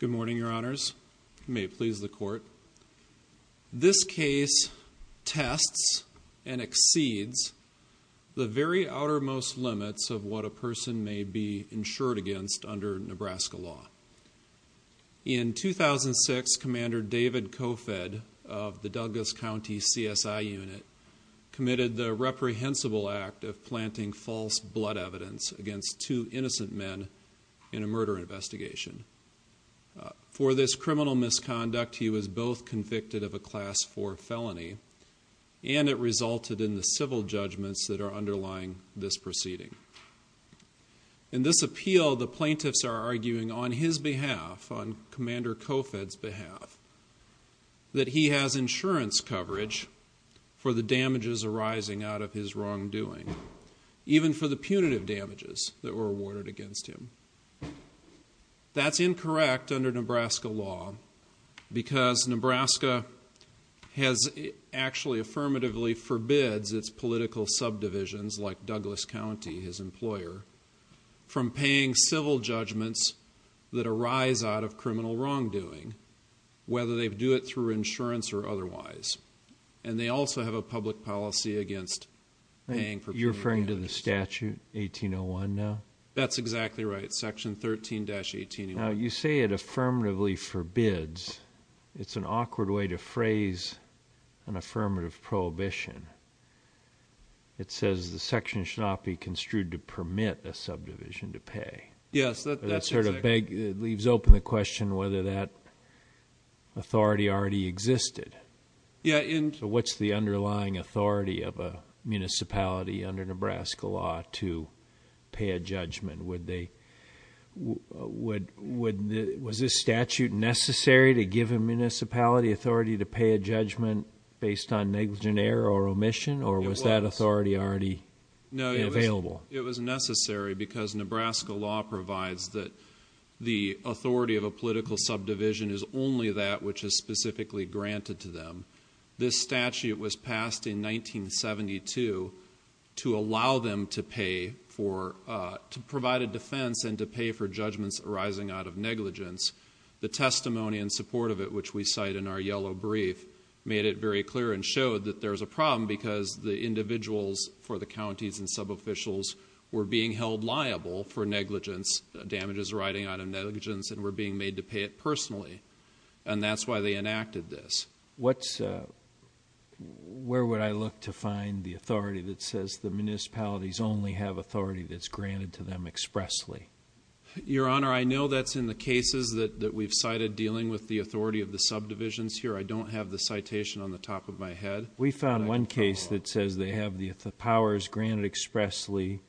Good morning, your honors. You may please the court. This case tests and exceeds the very outermost limits of what a person may be insured against under Nebraska law. In 2006, Commander David Kofed of the Douglas County CSI Unit committed the reprehensible act of planting false blood evidence against two innocent men in a murder investigation. For this criminal misconduct, he was both convicted of a Class IV felony, and it resulted in the civil judgments that are underlying this proceeding. In this appeal, the plaintiffs are arguing on his behalf, on Commander Kofed's behalf, that he has insurance coverage for the damages arising out of his wrongdoing, even for the punitive damages that were awarded against him. That's incorrect under Nebraska law, because Nebraska has actually affirmatively forbids its political subdivisions, like Douglas County, his employer, from paying civil judgments that arise out of criminal wrongdoing, whether they do it through insurance or otherwise. And they also have a public policy against paying for... You're referring to the statute 1801 now? That's exactly right. Section 13-1801. Now, you say it affirmatively forbids. It's an awkward way to phrase an affirmative prohibition. It says the section should not be construed to permit a subdivision to pay. Yes, that's exactly... It sort of leaves open the question whether that authority already existed. Yeah, and... What's the underlying authority of a municipality under Nebraska law to pay a judgment? Was this statute necessary to give a municipality authority to pay a judgment based on negligent error or omission, or was that authority already available? It was necessary because Nebraska law provides that the authority of a political subdivision is only that which is specifically granted to them. This statute was passed in 1972 to allow them to pay for... To provide a defense and to pay for judgments arising out of negligence. The testimony in support of it, which we cite in our yellow brief, made it very clear and showed that there's a problem because the individuals for the counties and sub-officials were being held liable for negligence, damages arising out of negligence, and were being made to pay it personally, and that's why they enacted this. Where would I look to find the authority that says the municipalities only have authority that's granted to them expressly? Your Honor, I know that's in the cases that we've cited dealing with the authority of the subdivisions here. I don't have the citation on the top of my head. We found one case that says they have the powers granted expressly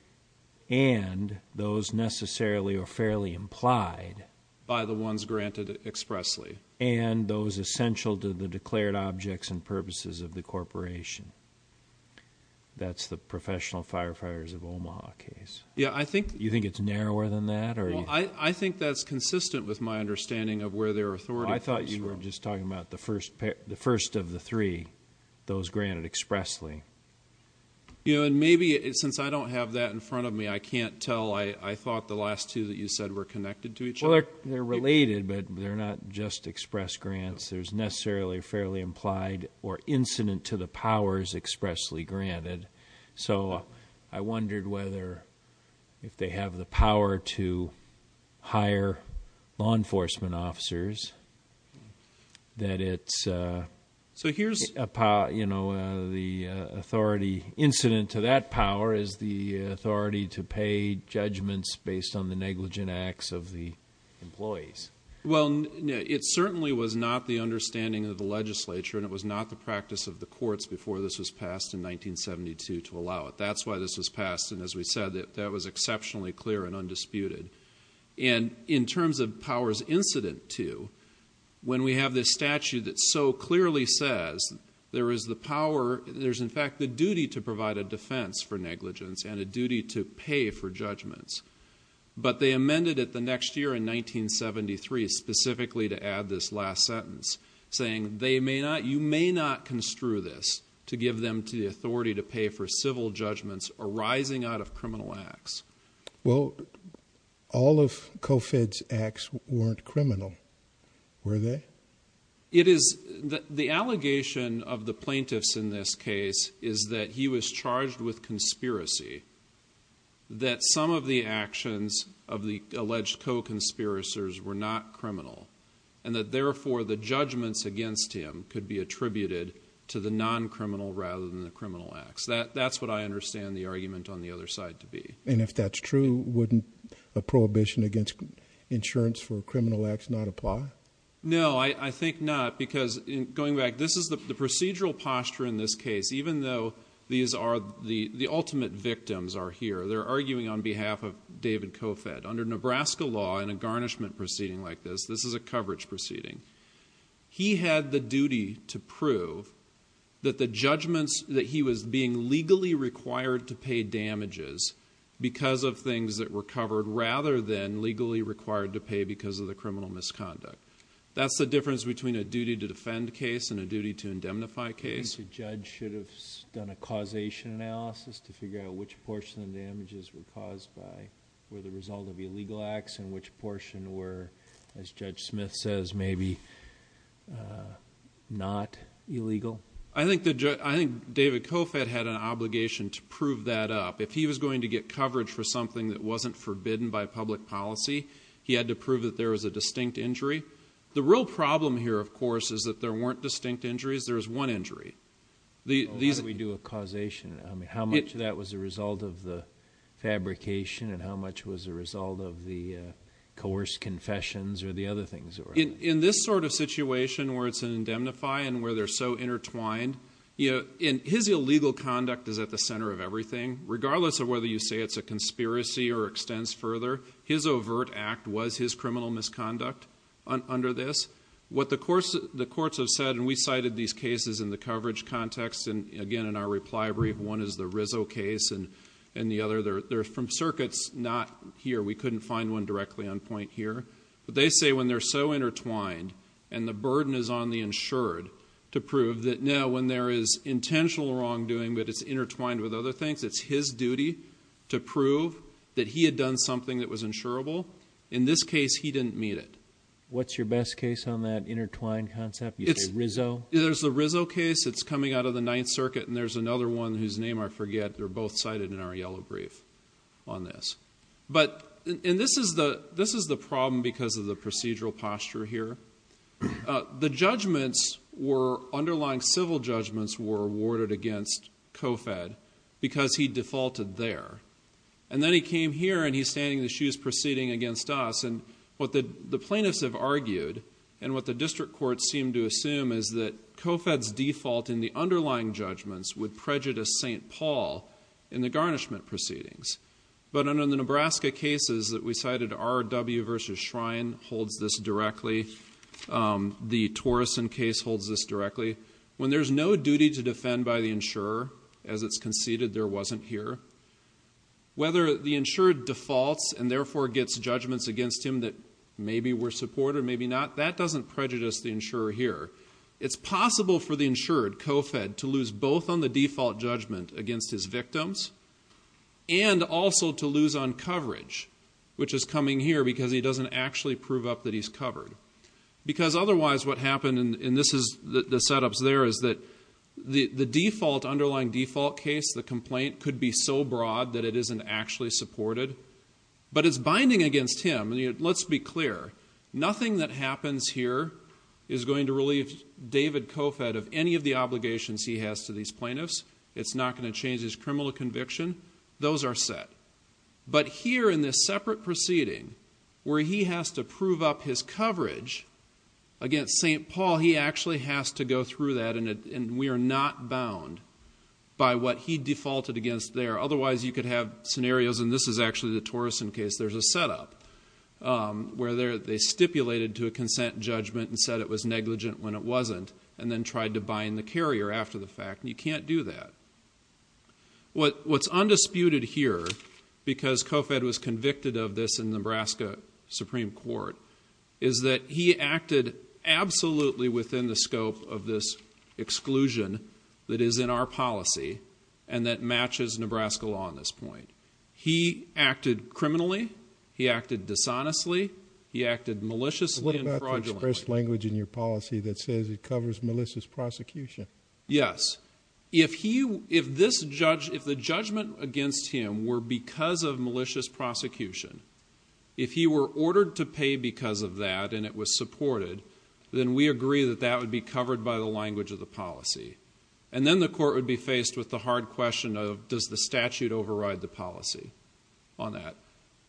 and those necessarily or fairly implied by the ones granted expressly and those essential to the declared objects and purposes of the corporation. That's the Professional Firefighters of Omaha case. Yeah, I think... You think it's narrower than that? I think that's consistent with my understanding of where their authority comes from. I thought you were just talking about the first of the three, those granted expressly. And maybe since I don't have that in front of me, I can't tell. I thought the last two that you said were connected to each other. They're related, but they're not just express grants. There's necessarily fairly implied or incident to the powers expressly granted. So I wondered whether if they have the power to hire law enforcement officers that it's... So here's the authority incident to that power is the authority to pay judgments based on the negligent acts of the employees. Well, it certainly was not the understanding of the legislature and it was not the practice of the courts before this was passed in 1972 to allow it. That's why this was passed. And as we said, that was exceptionally clear and undisputed. And in terms of powers incident to, when we have this statute that so clearly says there is the power... There's in fact the duty to provide a defense for negligence and a duty to pay for judgments. But they amended it the next year in 1973 specifically to add this last sentence saying they may not... You may not construe this to give them to the authority to pay for civil judgments arising out of criminal acts. Well, all of COFED's acts weren't criminal, were they? It is. The allegation of the plaintiffs in this case is that he was charged with conspiracy, that some of the actions of the alleged co-conspirators were not criminal, and that therefore the judgments against him could be attributed to the non-criminal rather than the criminal acts. That's what I understand the argument on the other side to be. And if that's true, wouldn't a prohibition against insurance for criminal acts not apply? No, I think not. Because going back, this is the procedural posture in this case, even though these are the ultimate victims are here. They're arguing on behalf of David COFED. Under Nebraska law in a garnishment proceeding like this, this is a coverage proceeding. He had the duty to prove that the judgments that he was being legally required to pay damages because of things that were covered rather than legally required to pay because of the criminal misconduct. That's the difference between a duty to defend case and a duty to indemnify case. Do you think the judge should have done a causation analysis to figure out which portion of the damages were caused by, were the result of illegal acts and which portion were, as Judge Smith says, maybe not illegal? I think David COFED had an obligation to prove that up. If he was going to get coverage for something that wasn't forbidden by public policy, he had to prove that there was a distinct injury. The real problem here, of course, is that there weren't distinct injuries. There was one injury. Why don't we do a causation? How much of that was a result of the fabrication and how much was a result of the coerced confessions or the other things? In this sort of situation where it's an indemnify and where they're so intertwined, his illegal conduct is at the center of everything. Regardless of whether you say it's a conspiracy or extends further, his overt act was his criminal misconduct under this. What the courts have said, and we cited these cases in the coverage context, and again in our reply brief, one is the Rizzo case and the other, they're from circuits, not here. We couldn't find one directly on point here. But they say when they're so intertwined and the burden is on the insured to prove that now when there is intentional wrongdoing, that it's intertwined with other things, it's his duty to prove that he had done something that was insurable. In this case, he didn't meet it. What's your best case on that intertwined concept? You say Rizzo? There's the Rizzo case. It's coming out of the Ninth Circuit. And there's another one whose name I forget. They're both cited in our yellow brief on this. But this is the problem because of the procedural posture here. The judgments were underlying civil judgments were awarded against COFED because he defaulted there. And then he came here and he's standing in the shoes proceeding against us. And what the plaintiffs have argued and what the district courts seem to assume is that COFED's default in the underlying judgments would prejudice St. Paul in the garnishment proceedings. But under the Nebraska cases that we cited, R.W. versus Shrine holds this directly. The Torreson case holds this directly. When there's no duty to defend by the insurer, as it's conceded there wasn't here, whether the insured defaults and therefore gets judgments against him that maybe were supported, maybe not, that doesn't prejudice the insurer here. It's possible for the insured, COFED, to lose both on the default judgment against his victims and also to lose on coverage, which is coming here because he doesn't actually prove up that he's covered. Because otherwise what happened, and this is the setups there, is that the default underlying default case, the complaint, could be so broad that it isn't actually supported. But it's binding against him. Let's be clear. Nothing that happens here is going to relieve David COFED of any of the obligations he has to these plaintiffs. It's not going to change his criminal conviction. Those are set. But here in this separate proceeding, where he has to prove up his coverage against St. Paul, he actually has to go through that, and we are not bound by what he defaulted against there. Otherwise you could have scenarios, and this is actually the Torreson case, there's a setup where they stipulated to a consent judgment and said it was negligent when it wasn't and then tried to bind the carrier after the fact. You can't do that. What's undisputed here, because COFED was convicted of this in Nebraska Supreme Court, is that he acted absolutely within the scope of this exclusion that is in our policy and that matches Nebraska law on this point. He acted criminally. He acted dishonestly. He acted maliciously and fraudulently. But what about the expressed language in your policy that says it covers malicious prosecution? Yes. If the judgment against him were because of malicious prosecution, if he were ordered to pay because of that and it was supported, then we agree that that would be covered by the language of the policy. And then the court would be faced with the hard question of does the statute override the policy on that.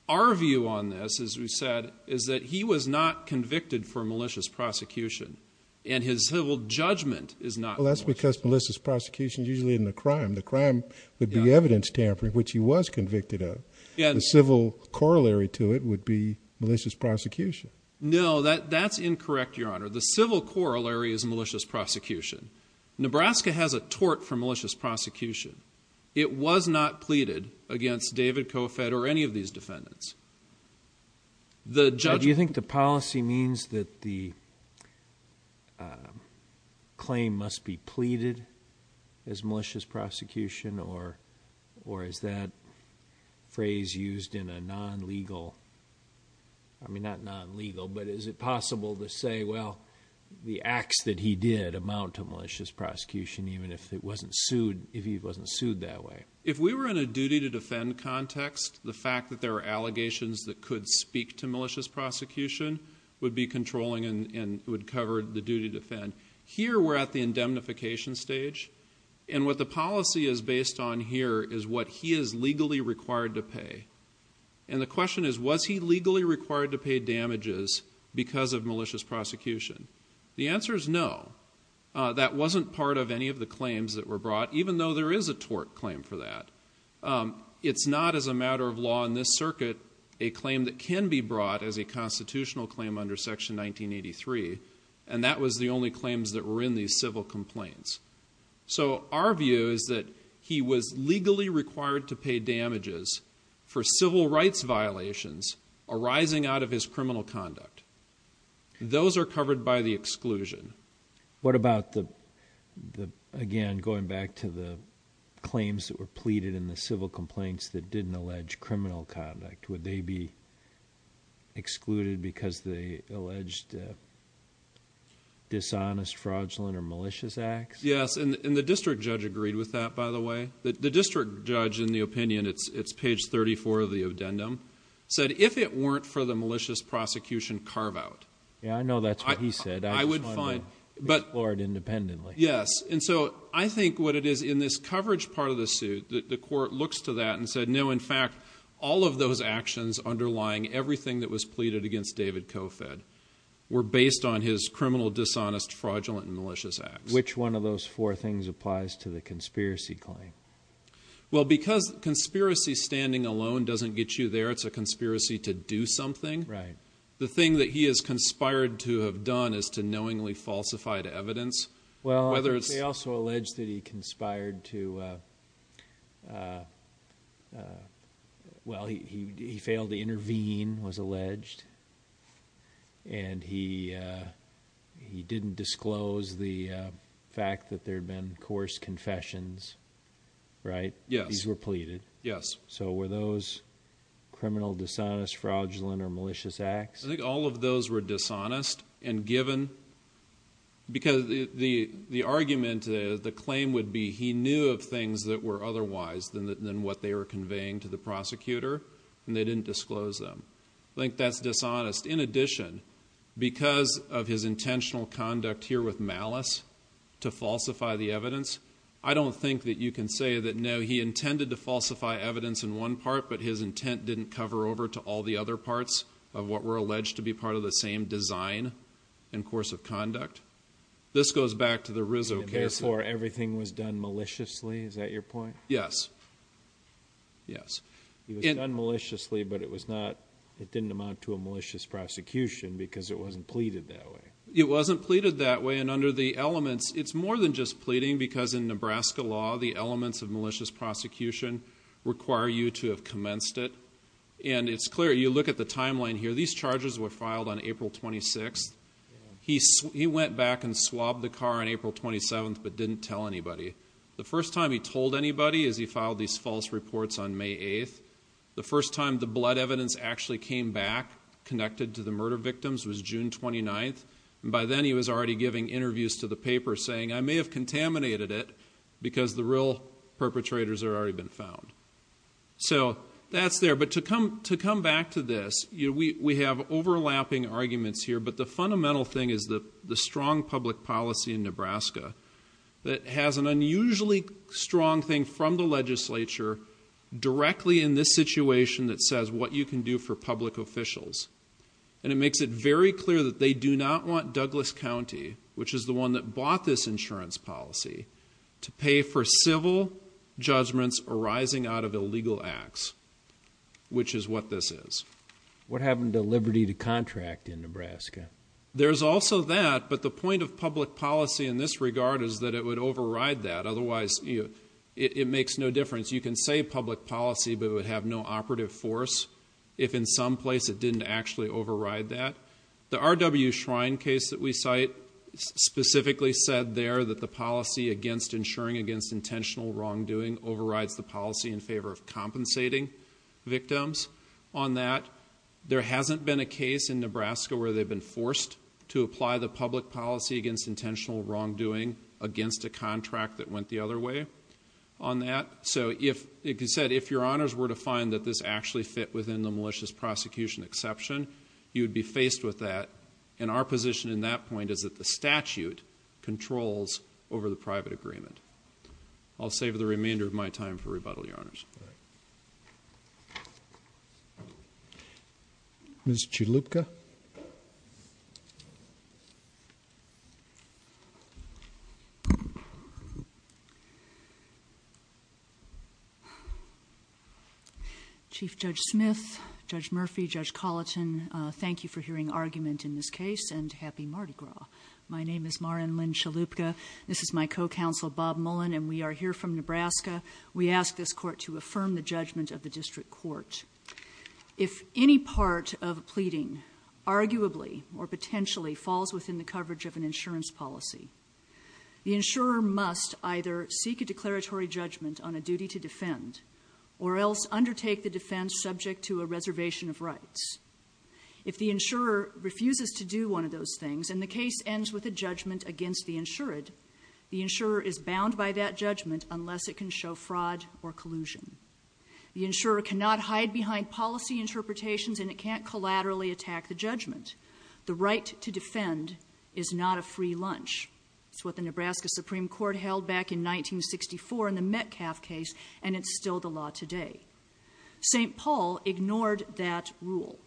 Our view on this, as we said, is that he was not convicted for malicious prosecution and his civil judgment is not. Well, that's because malicious prosecution is usually in the crime. The crime would be evidence tampering, which he was convicted of. The civil corollary to it would be malicious prosecution. No, that's incorrect, Your Honor. The civil corollary is malicious prosecution. Nebraska has a tort for malicious prosecution. It was not pleaded against David COFED or any of these defendants. But do you think the policy means that the claim must be pleaded as malicious prosecution or is that phrase used in a non-legal, I mean, not non-legal, but is it possible to say, well, the acts that he did amount to malicious prosecution, even if it wasn't sued, if he wasn't sued that way? If we were in a duty to defend context, the fact that there are allegations that could speak to malicious prosecution would be controlling and would cover the duty to defend. Here, we're at the indemnification stage. And what the policy is based on here is what he is legally required to pay. And the question is, was he legally required to pay damages because of malicious prosecution? The answer is no. That wasn't part of any of the claims that were brought, even though there is a tort claim for that. It's not as a matter of law in this circuit, a claim that can be brought as a constitutional claim under Section 1983. And that was the only claims that were in these civil complaints. So our view is that he was legally required to pay damages for civil rights violations arising out of his criminal conduct. Those are covered by the exclusion. What about the, again, going back to the claims that were pleaded in the civil complaints that didn't allege criminal conduct? Would they be excluded because they alleged dishonest, fraudulent, or malicious acts? Yes. And the district judge agreed with that, by the way. The district judge, in the opinion, it's page 34 of the addendum, said if it weren't for the malicious prosecution carve out. Yeah, I know that's what he said. I would find, but. Explored independently. Yes. And so I think what it is in this coverage part of the suit, the court looks to that and said, no, in fact, all of those actions underlying everything that was pleaded against David Kofed were based on his criminal, dishonest, fraudulent, and malicious acts. Which one of those four things applies to the conspiracy claim? Well, because conspiracy standing alone doesn't get you there, it's a conspiracy to do something. Right. The thing that he has conspired to have done is to knowingly falsify the evidence. Well, they also alleged that he conspired to, well, he failed to intervene, was alleged. And he didn't disclose the fact that there had been coarse confessions, right? Yes. These were pleaded. Yes. So were those criminal, dishonest, fraudulent, or malicious acts? I think all of those were dishonest and given because the argument, the claim would be he knew of things that were otherwise than what they were conveying to the prosecutor and they didn't disclose them. I think that's dishonest. In addition, because of his intentional conduct here with malice to falsify the evidence, I don't think that you can say that, no, he intended to falsify evidence in one part, but his intent didn't cover over to all the other parts of what were alleged to be part of the same design and course of conduct. This goes back to the Rizzo case. Therefore, everything was done maliciously. Is that your point? Yes. Yes. It was done maliciously, but it was not, it didn't amount to a malicious prosecution because it wasn't pleaded that way. It wasn't pleaded that way. Under the elements, it's more than just pleading because in Nebraska law, the elements of malicious prosecution require you to have commenced it. It's clear. You look at the timeline here. These charges were filed on April 26th. He went back and swabbed the car on April 27th, but didn't tell anybody. The first time he told anybody is he filed these false reports on May 8th. The first time the blood evidence actually came back connected to the murder victims was June 29th. By then, he was already giving interviews to the paper saying, I may have contaminated it because the real perpetrators had already been found. So that's there. But to come back to this, we have overlapping arguments here. But the fundamental thing is the strong public policy in Nebraska that has an unusually strong thing from the legislature directly in this situation that says what you can do for public officials. And it makes it very clear that they do not want Douglas County, which is the one that bought this insurance policy, to pay for civil judgments arising out of illegal acts, which is what this is. What happened to liberty to contract in Nebraska? There's also that. But the point of public policy in this regard is that it would override that. Otherwise, it makes no difference. You can say public policy, but it would have no operative force if in some place it didn't actually override that. The RW Shrine case that we cite specifically said there that the policy against insuring against intentional wrongdoing overrides the policy in favor of compensating victims on that. There hasn't been a case in Nebraska where they've been forced to apply the public policy against intentional wrongdoing against a contract that went the other way on that. So if you said if your honors were to find that this actually fit within the malicious prosecution exception, you would be faced with that. And our position in that point is that the statute controls over the private agreement. Ms. Chalupka. Chief Judge Smith, Judge Murphy, Judge Colleton, thank you for hearing argument in this case and happy Mardi Gras. My name is Maren Lynn Chalupka. This is my co-counsel, Bob Mullen, and we are here from Nebraska. We ask this court to affirm the judgment of the district court. If any part of a pleading arguably or potentially falls within the coverage of an insurance policy, the insurer must either seek a declaratory judgment on a duty to defend or else undertake the defense subject to a reservation of rights. If the insurer refuses to do one of those things and the case ends with a judgment against the insured, the insurer is bound by that judgment unless it can show fraud or collusion. The insurer cannot hide behind policy interpretations and it can't collaterally attack the judgment. The right to defend is not a free lunch. It's what the Nebraska Supreme Court held back in 1964 in the Metcalf case and it's still the law today. St. Paul ignored that rule.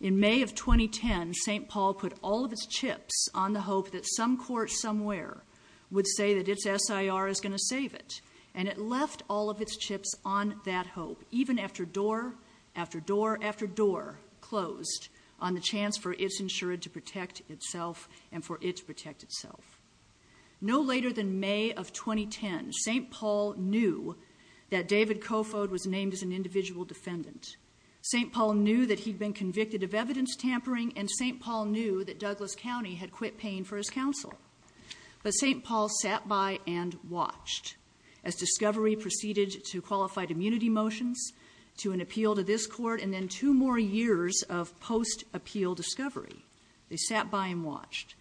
In May of 2010, St. Paul put all of its chips on the hope that some court somewhere would say that its SIR is going to save it and it left all of its chips on that hope even after door after door after door closed on the chance for its insured to protect itself and for it to protect itself. No later than May of 2010, St. Paul knew that David Kofod was named as an individual defendant. St. Paul knew that he'd been convicted of evidence tampering and St. Paul knew that Douglas County had quit paying for his counsel. But St. Paul sat by and watched as discovery proceeded to qualified immunity motions, to an appeal to this court, and then two more years of post-appeal discovery. They sat by and watched.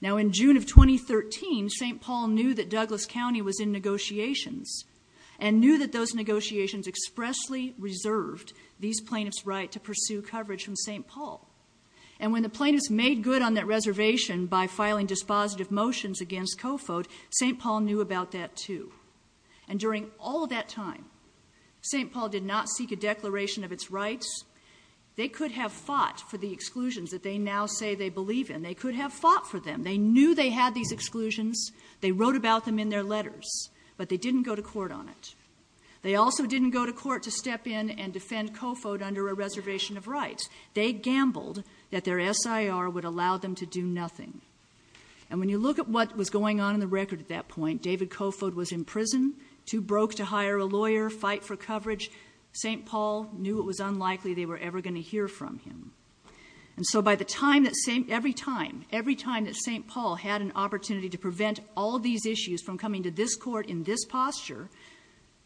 Now in June of 2013, St. Paul knew that Douglas County was in negotiations and knew that those negotiations expressly reserved these plaintiffs' right to pursue coverage from St. Paul. And when the plaintiffs made good on that reservation by filing dispositive motions against Kofod, St. Paul knew about that too. And during all of that time, St. Paul did not seek a declaration of its rights. They could have fought for the exclusions that they now say they believe in. They could have fought for them. They knew they had these exclusions. They wrote about them in their letters, but they didn't go to court on it. They also didn't go to court to step in and defend Kofod under a reservation of rights. They gambled that their S.I.R. would allow them to do nothing. And when you look at what was going on in the record at that point, David Kofod was in prison, too broke to hire a lawyer, fight for coverage. St. Paul knew it was unlikely they were ever going to hear from him. And so every time that St. Paul had an opportunity to prevent all these issues from coming to this court in this posture,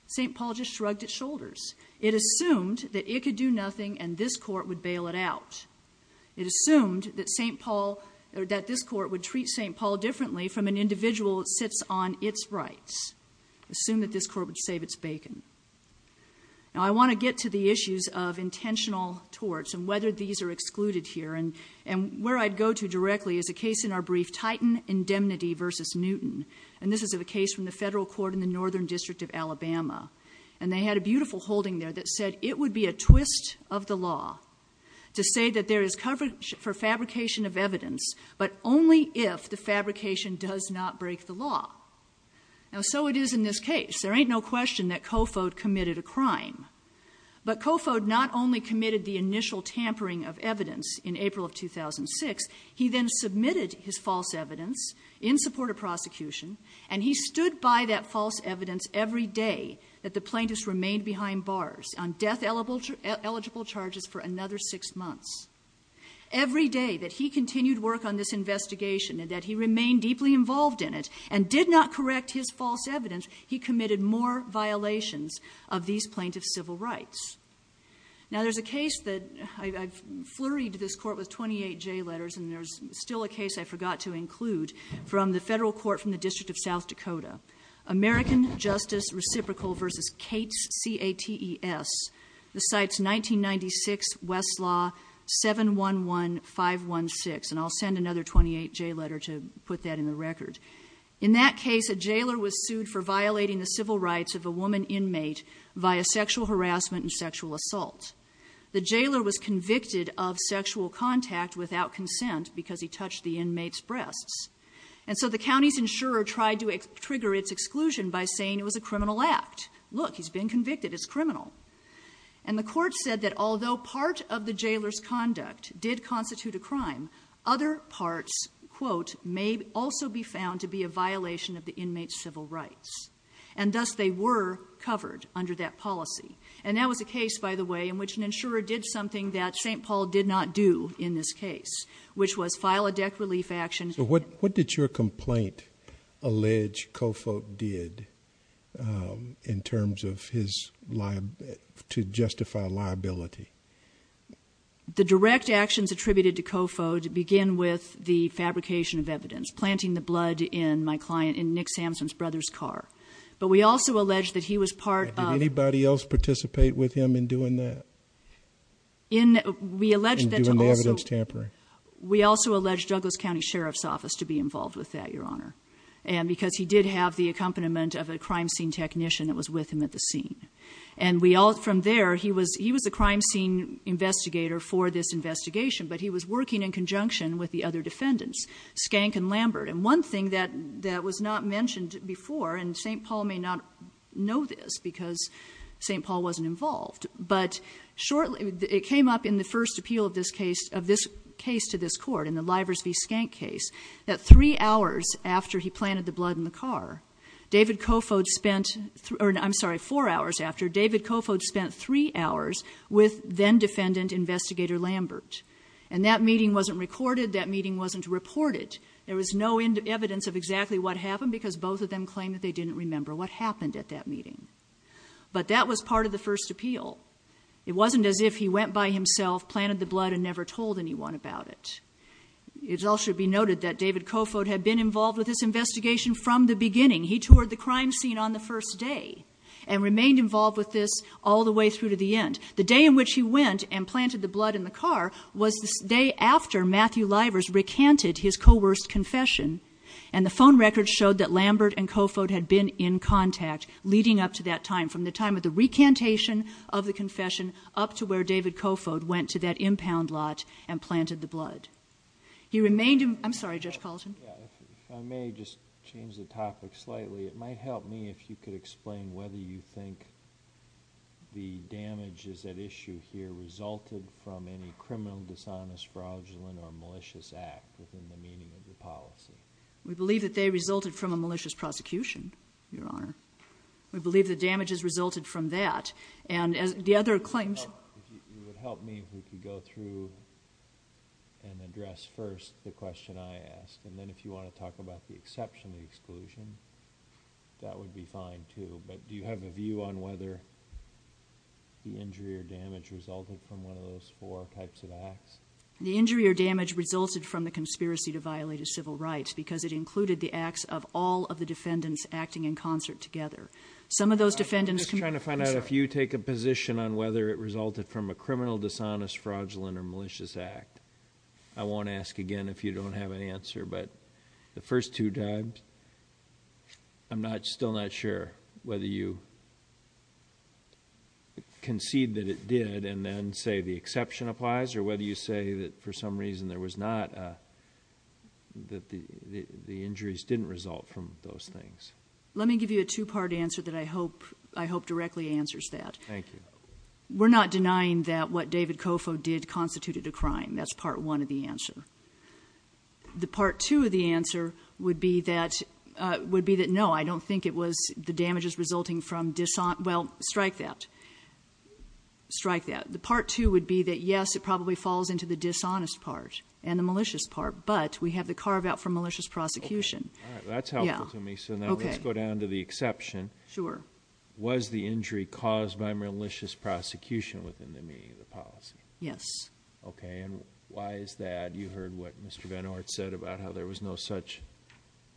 St. Paul just shrugged its shoulders. It assumed that it could do nothing and this court would bail it out. It assumed that St. Paul or that this court would treat St. Paul differently from an individual that sits on its rights. Assume that this court would save its bacon. Now, I want to get to the issues of intentional torts and whether these are excluded here. And where I'd go to directly is a case in our brief, Titan Indemnity versus Newton. And this is a case from the federal court in the Northern District of Alabama. And they had a beautiful holding there that said it would be a twist of the law to say that there is coverage for fabrication of evidence, but only if the fabrication does not break the law. Now, so it is in this case. There ain't no question that Kofod committed a crime. But Kofod not only committed the initial tampering of evidence in April of 2006, he then submitted his false evidence in support of prosecution. And he stood by that false evidence every day that the plaintiffs remained behind bars. On death eligible charges for another six months. Every day that he continued work on this investigation and that he remained deeply involved in it and did not correct his false evidence, he committed more violations of these plaintiff's civil rights. Now, there's a case that I've flurried this court with 28 J letters and there's still a case I forgot to include from the federal court from the District of South Dakota. American Justice Reciprocal versus Cates, C-A-T-E-S. The site's 1996 Westlaw 7-1-1-5-1-6. And I'll send another 28 J letter to put that in the record. In that case, a jailer was sued for violating the civil rights of a woman inmate via sexual harassment and sexual assault. The jailer was convicted of sexual contact without consent because he touched the inmate's breasts. And so the county's insurer tried to trigger its exclusion by saying it was a criminal act. Look, he's been convicted, it's criminal. And the court said that although part of the jailer's conduct did constitute a crime, other parts, quote, may also be found to be a violation of the inmate's civil rights. And thus they were covered under that policy. And that was a case, by the way, in which an insurer did something that St. Paul did not do in this case, which was file a deck relief action. So what did your complaint allege Kofo did in terms of his to justify liability? The direct actions attributed to Kofo to begin with the fabrication of evidence, planting the blood in my client, in Nick Sampson's brother's car. But we also allege that he was part of- Did anybody else participate with him in doing that? In, we allege that- In doing the evidence tampering. We also allege Douglas County Sheriff's Office to be involved with that, Your Honor. And because he did have the accompaniment of a crime scene technician that was with him at the scene. And we all, from there, he was the crime scene investigator for this investigation, but he was working in conjunction with the other defendants, Skank and Lambert. And one thing that was not mentioned before, and St. Paul may not know this because St. Paul wasn't involved, but shortly, it came up in the first appeal of this case, of this case to this court in the Livers v. Skank case, that three hours after he planted the blood in the car, David Kofod spent- I'm sorry, four hours after, David Kofod spent three hours with then-defendant investigator Lambert. And that meeting wasn't recorded. That meeting wasn't reported. There was no evidence of exactly what happened because both of them claimed that they didn't remember what happened at that meeting. But that was part of the first appeal. It wasn't as if he went by himself, planted the blood, and never told anyone about it. It also should be noted that David Kofod had been involved with this investigation from the beginning. He toured the crime scene on the first day and remained involved with this all the way through to the end. The day in which he went and planted the blood in the car was the day after Matthew Livers recanted his coerced confession. And the phone records showed that Lambert and Kofod had been in contact leading up to that time, from the time of the recantation of the confession up to where David Kofod went to that impound lot and planted the blood. He remained in... I'm sorry, Judge Paulson. Yeah, if I may just change the topic slightly. It might help me if you could explain whether you think the damages at issue here resulted from any criminal dishonest, fraudulent, or malicious act within the meaning of the policy. We believe that they resulted from a malicious prosecution, Your Honor. We believe the damages resulted from that. And as the other claims... It would help me if we could go through and address first the question I asked. And then if you want to talk about the exception, the exclusion, that would be fine too. But do you have a view on whether the injury or damage resulted from one of those four types of acts? The injury or damage resulted from the conspiracy to violate a civil right because it included the acts of all of the defendants acting in concert together. Some of those defendants... I'm just trying to find out if you take a position on whether it resulted from a criminal dishonest, fraudulent, or malicious act. I won't ask again if you don't have an answer. But the first two times, I'm still not sure whether you concede that it did and then say the exception applies or whether you say that for some reason there was not... that the injuries didn't result from those things. Let me give you a two-part answer that I hope directly answers that. Thank you. We're not denying that what David Kofo did constituted a crime. That's part one of the answer. The part two of the answer would be that no, I don't think it was the damages resulting from dishonest... Well, strike that. Strike that. The part two would be that yes, it probably falls into the dishonest part and the malicious part, but we have the carve-out from malicious prosecution. All right, that's helpful to me. So now let's go down to the exception. Sure. Was the injury caused by malicious prosecution within the meaning of the policy? Yes. Okay, and why is that? You heard what Mr. Benhart said about how there was no such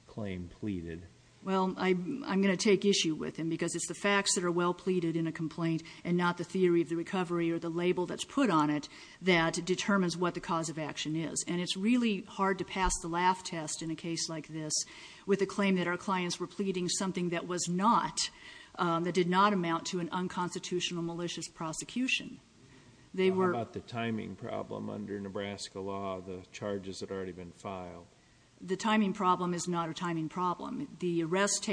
claim pleaded. Well, I'm going to take issue with him because it's the facts that are well pleaded in a complaint and not the theory of the recovery or the label that's put on it that determines what the cause of action is. And it's really hard to pass the laugh test in a case like this with a claim that our clients were pleading something that was not... that did not amount to an unconstitutional malicious prosecution. How about the timing problem under Nebraska law? The charges had already been filed. The timing problem is not a timing problem. The arrest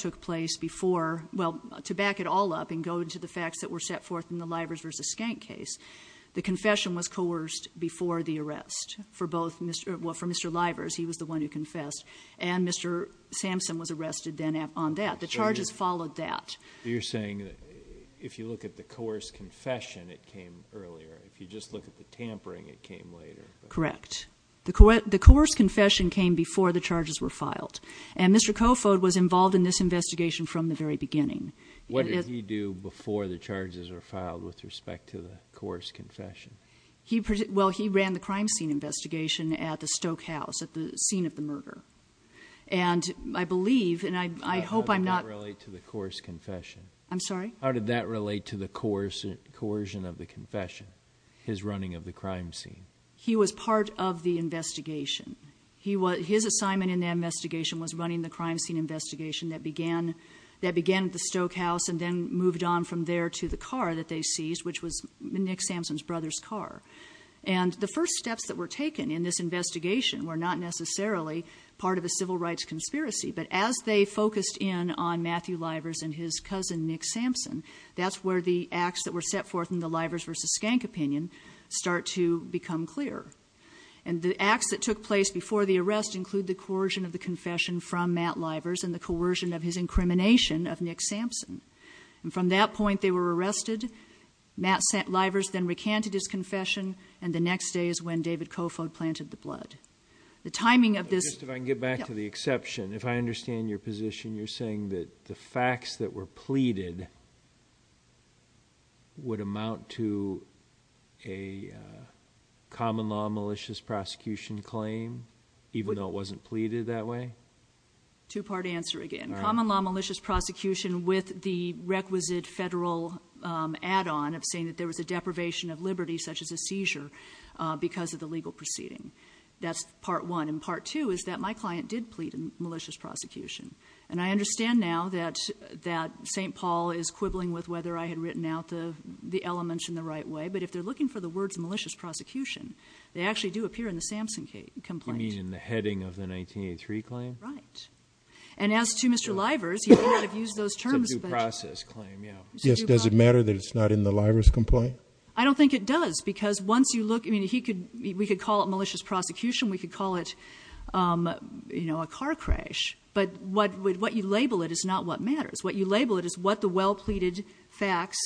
took place before... Well, to back it all up and go into the facts that were set forth in the Libers v. Skank case, the confession was coerced before the arrest for both... Well, for Mr. Libers, he was the one who confessed and Mr. Sampson was arrested then on that. The charges followed that. You're saying that if you look at the coerced confession, it came earlier. If you just look at the tampering, it came later. Correct. The coerced confession came before the charges were filed. And Mr. Kofod was involved in this investigation from the very beginning. What did he do before the charges were filed with respect to the coerced confession? Well, he ran the crime scene investigation at the Stoke House, at the scene of the murder. And I believe, and I hope I'm not... How did that relate to the coercion of the confession, his running of the crime scene? He was part of the investigation. His assignment in the investigation was running the crime scene investigation that began at the Stoke House and then moved on from there to the car that they seized, which was Nick Sampson's brother's car. And the first steps that were taken in this investigation were not necessarily part of a civil rights conspiracy. But as they focused in on Matthew Livers and his cousin, Nick Sampson, that's where the acts that were set forth in the Livers versus Skank opinion start to become clear. And the acts that took place before the arrest include the coercion of the confession from Matt Livers and the coercion of his incrimination of Nick Sampson. And from that point, they were arrested. Matt Livers then recanted his confession. And the next day is when David Kofod planted the blood. The timing of this... Just if I can get back to the exception, if I understand your position, you're saying that the facts that were pleaded would amount to a common law malicious prosecution claim, even though it wasn't pleaded that way? Two-part answer again. Common law malicious prosecution with the requisite federal add-on of saying that there was a deprivation of liberty, such as a seizure, because of the legal proceeding. That's part one. And part two is that my client did plead a malicious prosecution. And I understand now that St. Paul is quibbling with whether I had written out the elements in the right way. But if they're looking for the words malicious prosecution, they actually do appear in the Sampson complaint. You mean in the heading of the 1983 claim? Right. And as to Mr. Livers, he may not have used those terms. It's a due process claim, yeah. Yes, does it matter that it's not in the Livers complaint? I don't think it does, because once you look, I mean, we could call it malicious prosecution. We could call it, you know, a car crash. But what you label it is not what matters. What you label it is what the well-pleaded facts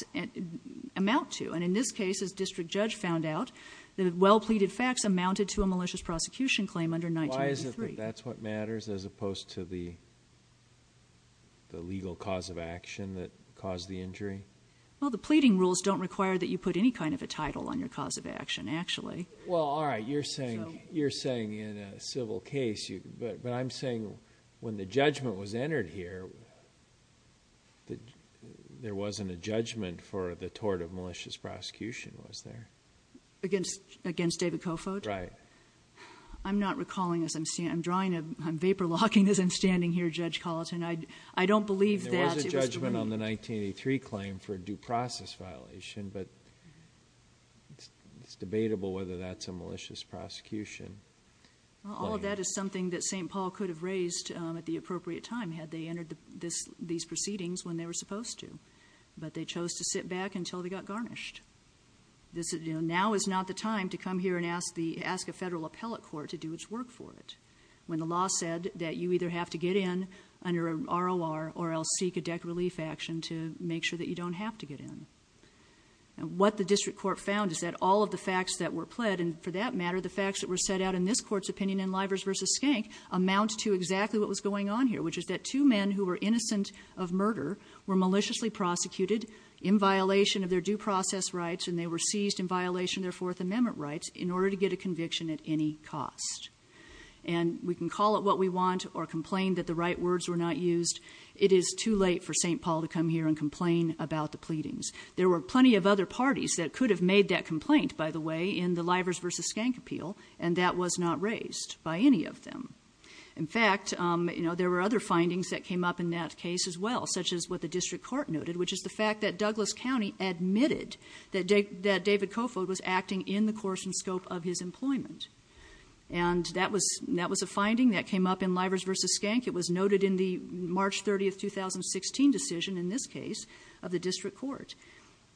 amount to. And in this case, as District Judge found out, the well-pleaded facts amounted to a malicious prosecution claim under 1983. Why is it that that's what matters as opposed to the the legal cause of action that caused the injury? Well, the pleading rules don't require that you put any kind of a title on your cause of action, actually. Well, all right. You're saying in a civil case, but I'm saying when the judgment was entered here, there wasn't a judgment for the tort of malicious prosecution, was there? Against David Kofod? Right. I'm not recalling as I'm seeing, I'm drawing, I'm vapor locking as I'm standing here, Judge Colleton. I don't believe that. There was a judgment on the 1983 claim for a due process violation, but it's debatable whether that's a malicious prosecution. All of that is something that St. Paul could have raised at the appropriate time had they entered these proceedings when they were supposed to, but they chose to sit back until they got garnished. Now is not the time to come here and ask a federal appellate court to do its work for it when the law said that you either have to get in under a ROR or else seek a debt relief action to make sure that you don't have to get in. What the district court found is that all of the facts that were pled and for that matter, the facts that were set out in this court's opinion in Livers v. Skank amount to exactly what was going on here, which is that two men who were innocent of murder were maliciously prosecuted in violation of their due process rights and they were seized in violation of their Fourth Amendment rights in order to get a conviction at any cost. And we can call it what we want or complain that the right words were not used. It is too late for St. Paul to come here and complain about the pleadings. There were plenty of other parties that could have made that complaint, by the way, in the Livers v. Skank appeal and that was not raised by any of them. In fact, there were other findings that came up in that case as well, such as what the district court noted, which is the fact that Douglas County admitted that David Kofold was acting in the course and scope of his employment. And that was a finding that came up in Livers v. Skank. It was noted in the March 30, 2016 decision, in this case, of the district court.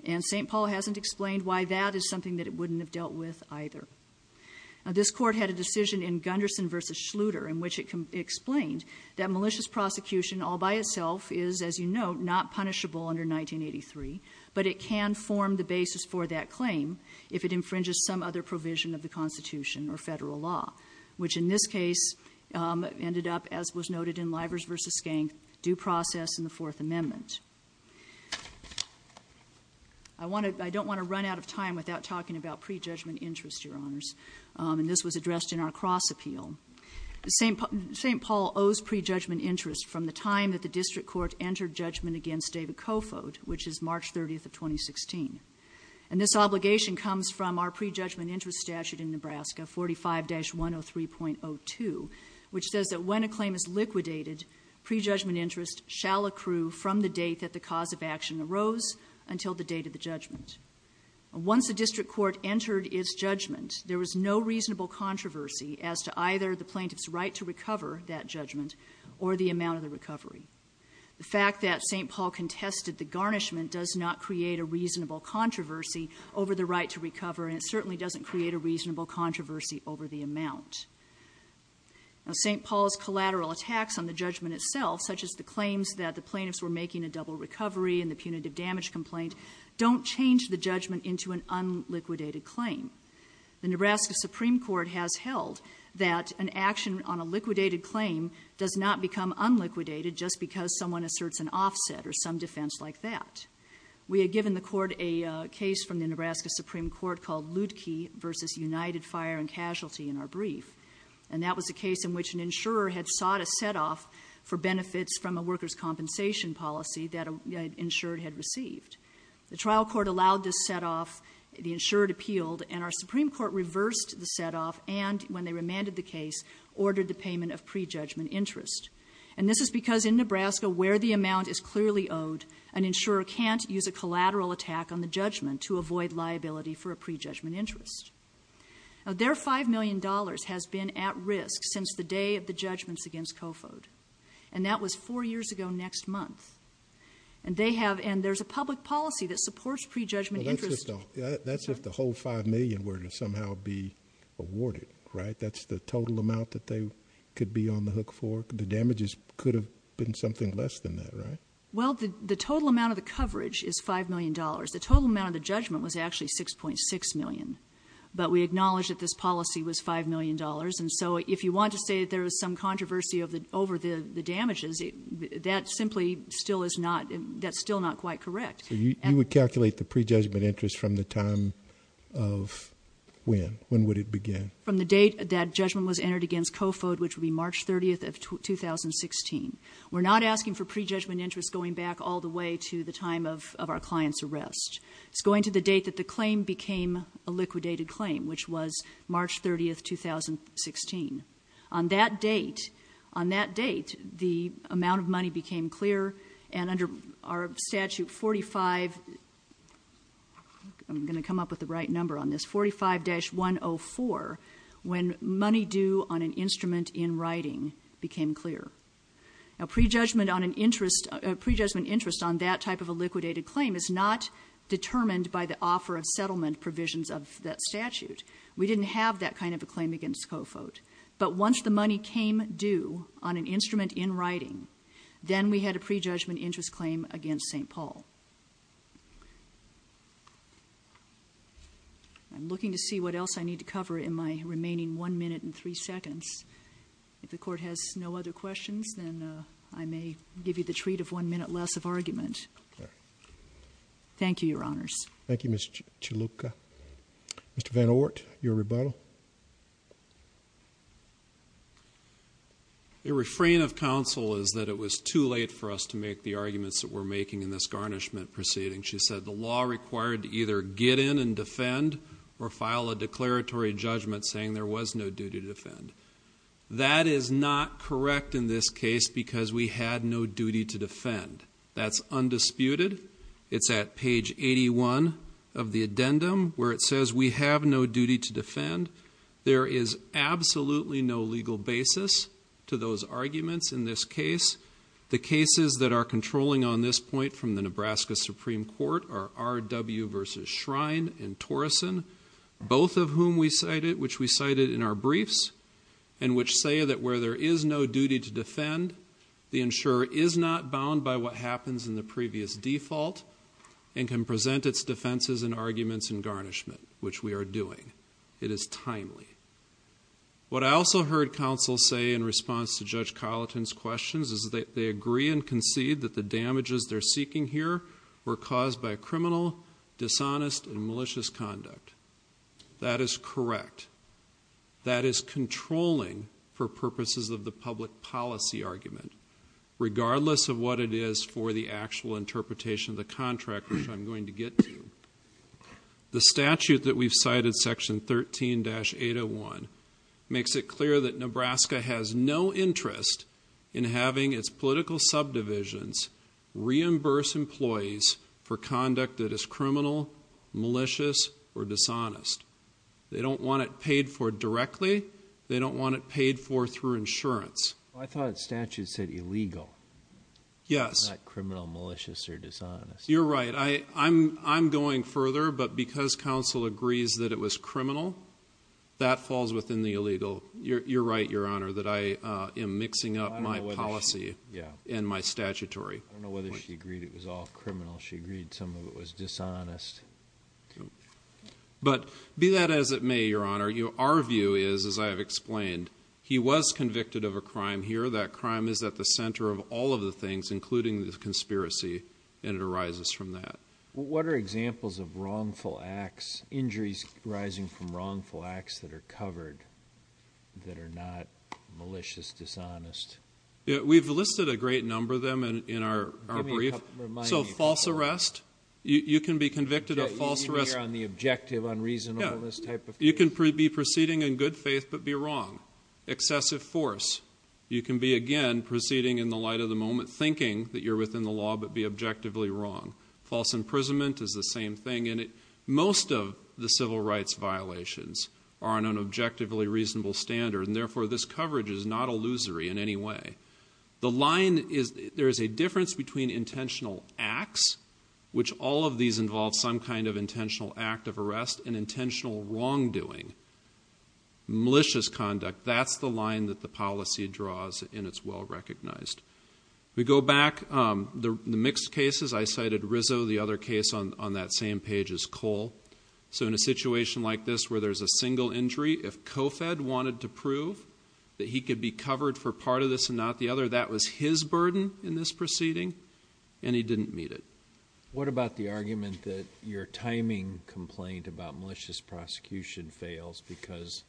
And St. Paul hasn't explained why that is something that it wouldn't have dealt with either. This court had a decision in Gunderson v. Schluter in which it explained that malicious prosecution all by itself is, as you know, not punishable under 1983, but it can form the basis for that claim if it infringes some other provision of the Constitution or federal law, which in this case ended up, as was noted in Livers v. Skank, due process in the Fourth Amendment. I don't want to run out of time without talking about pre-judgment interest, Your Honors. And this was addressed in our cross-appeal. St. Paul owes pre-judgment interest from the time that the district court entered judgment against David Kofold, which is March 30, 2016. And this obligation comes from our pre-judgment interest statute in Nebraska, 45-103.02, which says that when a claim is liquidated, pre-judgment interest shall accrue from the date that the cause of action arose until the date of the judgment. Once the district court entered its judgment, there was no reasonable controversy as to either the plaintiff's right to recover that judgment or the amount of the recovery. The fact that St. Paul contested the garnishment does not create a reasonable controversy over the right to recover, and it certainly doesn't create a reasonable controversy over the amount. Now, St. Paul's collateral attacks on the judgment itself, such as the claims that the plaintiffs were making a double recovery in the punitive damage complaint, don't change the judgment into an unliquidated claim. The Nebraska Supreme Court has held that an action on a liquidated claim does not become unliquidated just because someone asserts an offset or some defense like that. We had given the court a case from the Nebraska Supreme Court called Ludeke versus United Fire and Casualty in our brief, and that was a case in which an insurer had sought a set-off for benefits from a worker's compensation policy that an insurer had received. The trial court allowed this set-off. The insurer appealed, and our Supreme Court reversed the set-off and, when they remanded the case, ordered the payment of prejudgment interest. And this is because in Nebraska, where the amount is clearly owed, an insurer can't use a collateral attack on the judgment to avoid liability for a prejudgment interest. Now, their $5 million has been at risk since the day of the judgments against Kofod, and that was four years ago next month. And they have, and there's a public policy that supports prejudgment interest. Well, that's if the whole $5 million were to somehow be awarded, right? That's the total amount that they could be on the hook for? The damages could have been something less than that, right? Well, the total amount of the coverage is $5 million. The total amount of the judgment was actually $6.6 million, but we acknowledge that this policy was $5 million, and so if you want to say that there was some controversy over the damages, that simply still is not, that's still not quite correct. You would calculate the prejudgment interest from the time of when? When would it begin? From the date that judgment was entered against Kofod, which would be March 30th of 2016. We're not asking for prejudgment interest going back all the way to the time of our client's arrest. It's going to the date that the claim became a liquidated claim, which was March 30th, 2016. On that date, on that date, the amount of money became clear, and under our statute 45, I'm going to come up with the right number on this, 45-104, when money due on an instrument in writing became clear. Now, prejudgment on an interest, prejudgment interest on that type of a liquidated claim is not determined by the offer of settlement provisions of that statute. against Kofod, but once the money came due on an instrument in writing, then we had a prejudgment interest claim against St. Paul. I'm looking to see what else I need to cover in my remaining one minute and three seconds. If the court has no other questions, then I may give you the treat of one minute less of argument. Thank you, Your Honors. Thank you, Ms. Chalupka. Mr. Van Oort, your rebuttal. A refrain of counsel is that it was too late for us to make the arguments that we're making in this garnishment proceeding. She said the law required to either get in and defend or file a declaratory judgment saying there was no duty to defend. That is not correct in this case because we had no duty to defend. That's undisputed. where it says we have no duty to defend, and we have no duty to defend. There is absolutely no legal basis to those arguments in this case. The cases that are controlling on this point from the Nebraska Supreme Court are R.W. versus Shrine and Torrison, both of whom we cited, which we cited in our briefs, and which say that where there is no duty to defend, the insurer is not bound by what happens in the previous default and can present its defenses and arguments in garnishment, which we are doing. It is timely. What I also heard counsel say in response to Judge Colleton's questions is that they agree and concede that the damages they're seeking here were caused by criminal, dishonest, and malicious conduct. That is correct. That is controlling for purposes of the public policy argument, regardless of what it is for the actual interpretation of the contract, which I'm going to get to. The statute that we've cited, Section 13-801, makes it clear that Nebraska has no interest in having its political subdivisions reimburse employees for conduct that is criminal, malicious, or dishonest. They don't want it paid for directly. They don't want it paid for through insurance. I thought the statute said illegal. Yes. Not criminal, malicious, or dishonest. You're right. I'm going further, but because counsel agrees that it was criminal, that falls within the illegal. You're right, Your Honor, that I am mixing up my policy and my statutory. I don't know whether she agreed it was all criminal. She agreed some of it was dishonest. But be that as it may, Your Honor, our view is, as I have explained, he was convicted of a crime here. That crime is at the center of all of the things, including the conspiracy, and it arises from that. What are examples of wrongful acts, injuries arising from wrongful acts that are covered, that are not malicious, dishonest? We've listed a great number of them in our brief. So false arrest. You can be convicted of false arrest. On the objective unreasonableness type? You can be proceeding in good faith, but be wrong. Excessive force. You can be, again, proceeding in the light of the moment, thinking that you're within the law, but be objectively wrong. False imprisonment is the same thing. Most of the civil rights violations are on an objectively reasonable standard, and therefore this coverage is not illusory in any way. The line is, there is a difference between intentional acts, which all of these involve some kind of intentional act of arrest and intentional wrongdoing. Malicious conduct. That's the line that the policy draws and it's well recognized. We go back. The mixed cases, I cited Rizzo, the other case on that same page is Cole. So in a situation like this, where there's a single injury, if COFED wanted to prove that he could be covered for part of this and not the other, that was his burden in this proceeding and he didn't meet it. What about the argument that your timing complaint about malicious prosecution fails because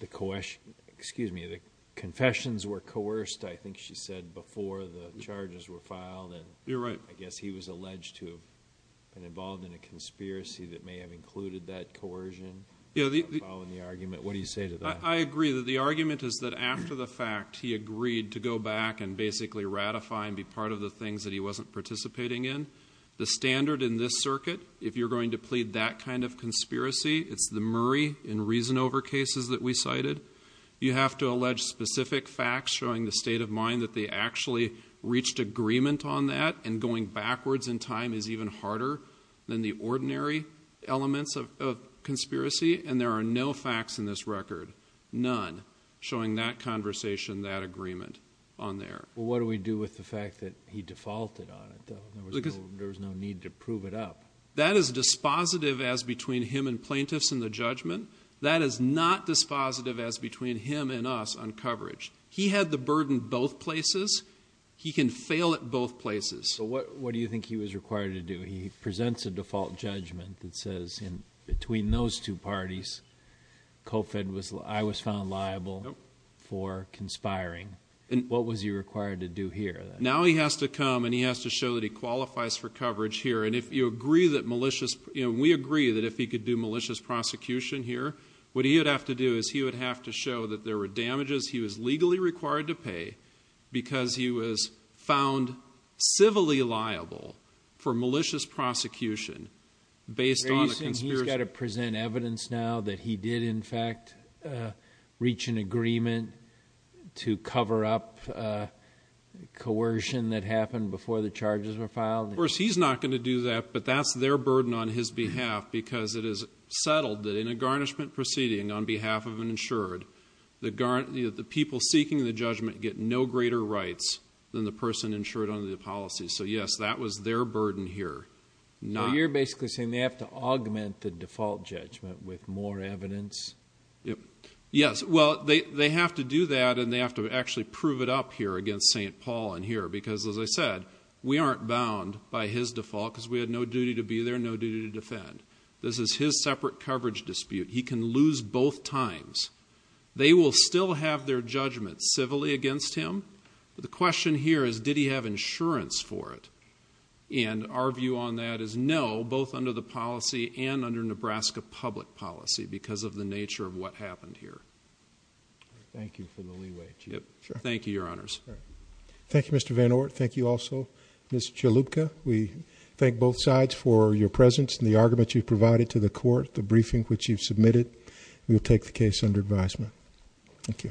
the confessions were coerced, I think she said, before the charges were filed. And I guess he was alleged and involved in a conspiracy that may have included that coercion. Yeah, following the argument. What do you say to that? I agree that the argument is that after the fact, he agreed to go back and basically ratify and be part of the things that he wasn't participating in. The standard in this circuit, if you're going to plead that kind of conspiracy, it's the Murray in reason over cases that we cited. You have to allege specific facts showing the state of mind that they actually reached agreement on that and going backwards in time is even harder than the ordinary elements of conspiracy. And there are no facts in this record, none showing that conversation, that agreement on there. What do we do with the fact that he defaulted on it? There was no need to prove it up. That is dispositive as between him and plaintiffs in the judgment. That is not dispositive as between him and us on coverage. He had the burden both places. He can fail at both places. What do you think he was required to do? He presents a default judgment that says in between those two parties, Cofed, I was found liable for conspiring. And what was he required to do here? Now he has to come and he has to show that he qualifies for coverage here. And if you agree that malicious, we agree that if he could do malicious prosecution here, what he would have to do is he would have to show that there were damages he was legally required to pay because he was found civilly liable for malicious prosecution based on a conspiracy. He's got to present evidence now that he did, in fact, reach an agreement to cover up coercion that happened before the charges were filed. Of course, he's not going to do that, but that's their burden on his behalf because it is settled that in a garnishment proceeding on behalf of an insured, the people seeking the judgment get no greater rights than the person insured under the policy. So, yes, that was their burden here. Now, you're basically saying they have to augment the default judgment with more evidence. Yes, well, they have to do that and they have to actually prove it up here against St. Paul in here, because as I said, we aren't bound by his default because we had no duty to be there, no duty to defend. This is his separate coverage dispute. He can lose both times. They will still have their judgment civilly against him. The question here is, did he have insurance for it? And our view on that is no, both under the policy and under Nebraska public policy because of the nature of what happened here. Thank you for the leeway. Thank you, Your Honors. Thank you, Mr. Van Oort. Thank you also, Ms. Chalupka. We thank both sides for your presence and the argument you've provided to the court, the briefing which you've submitted. We will take the case under advisement. Thank you.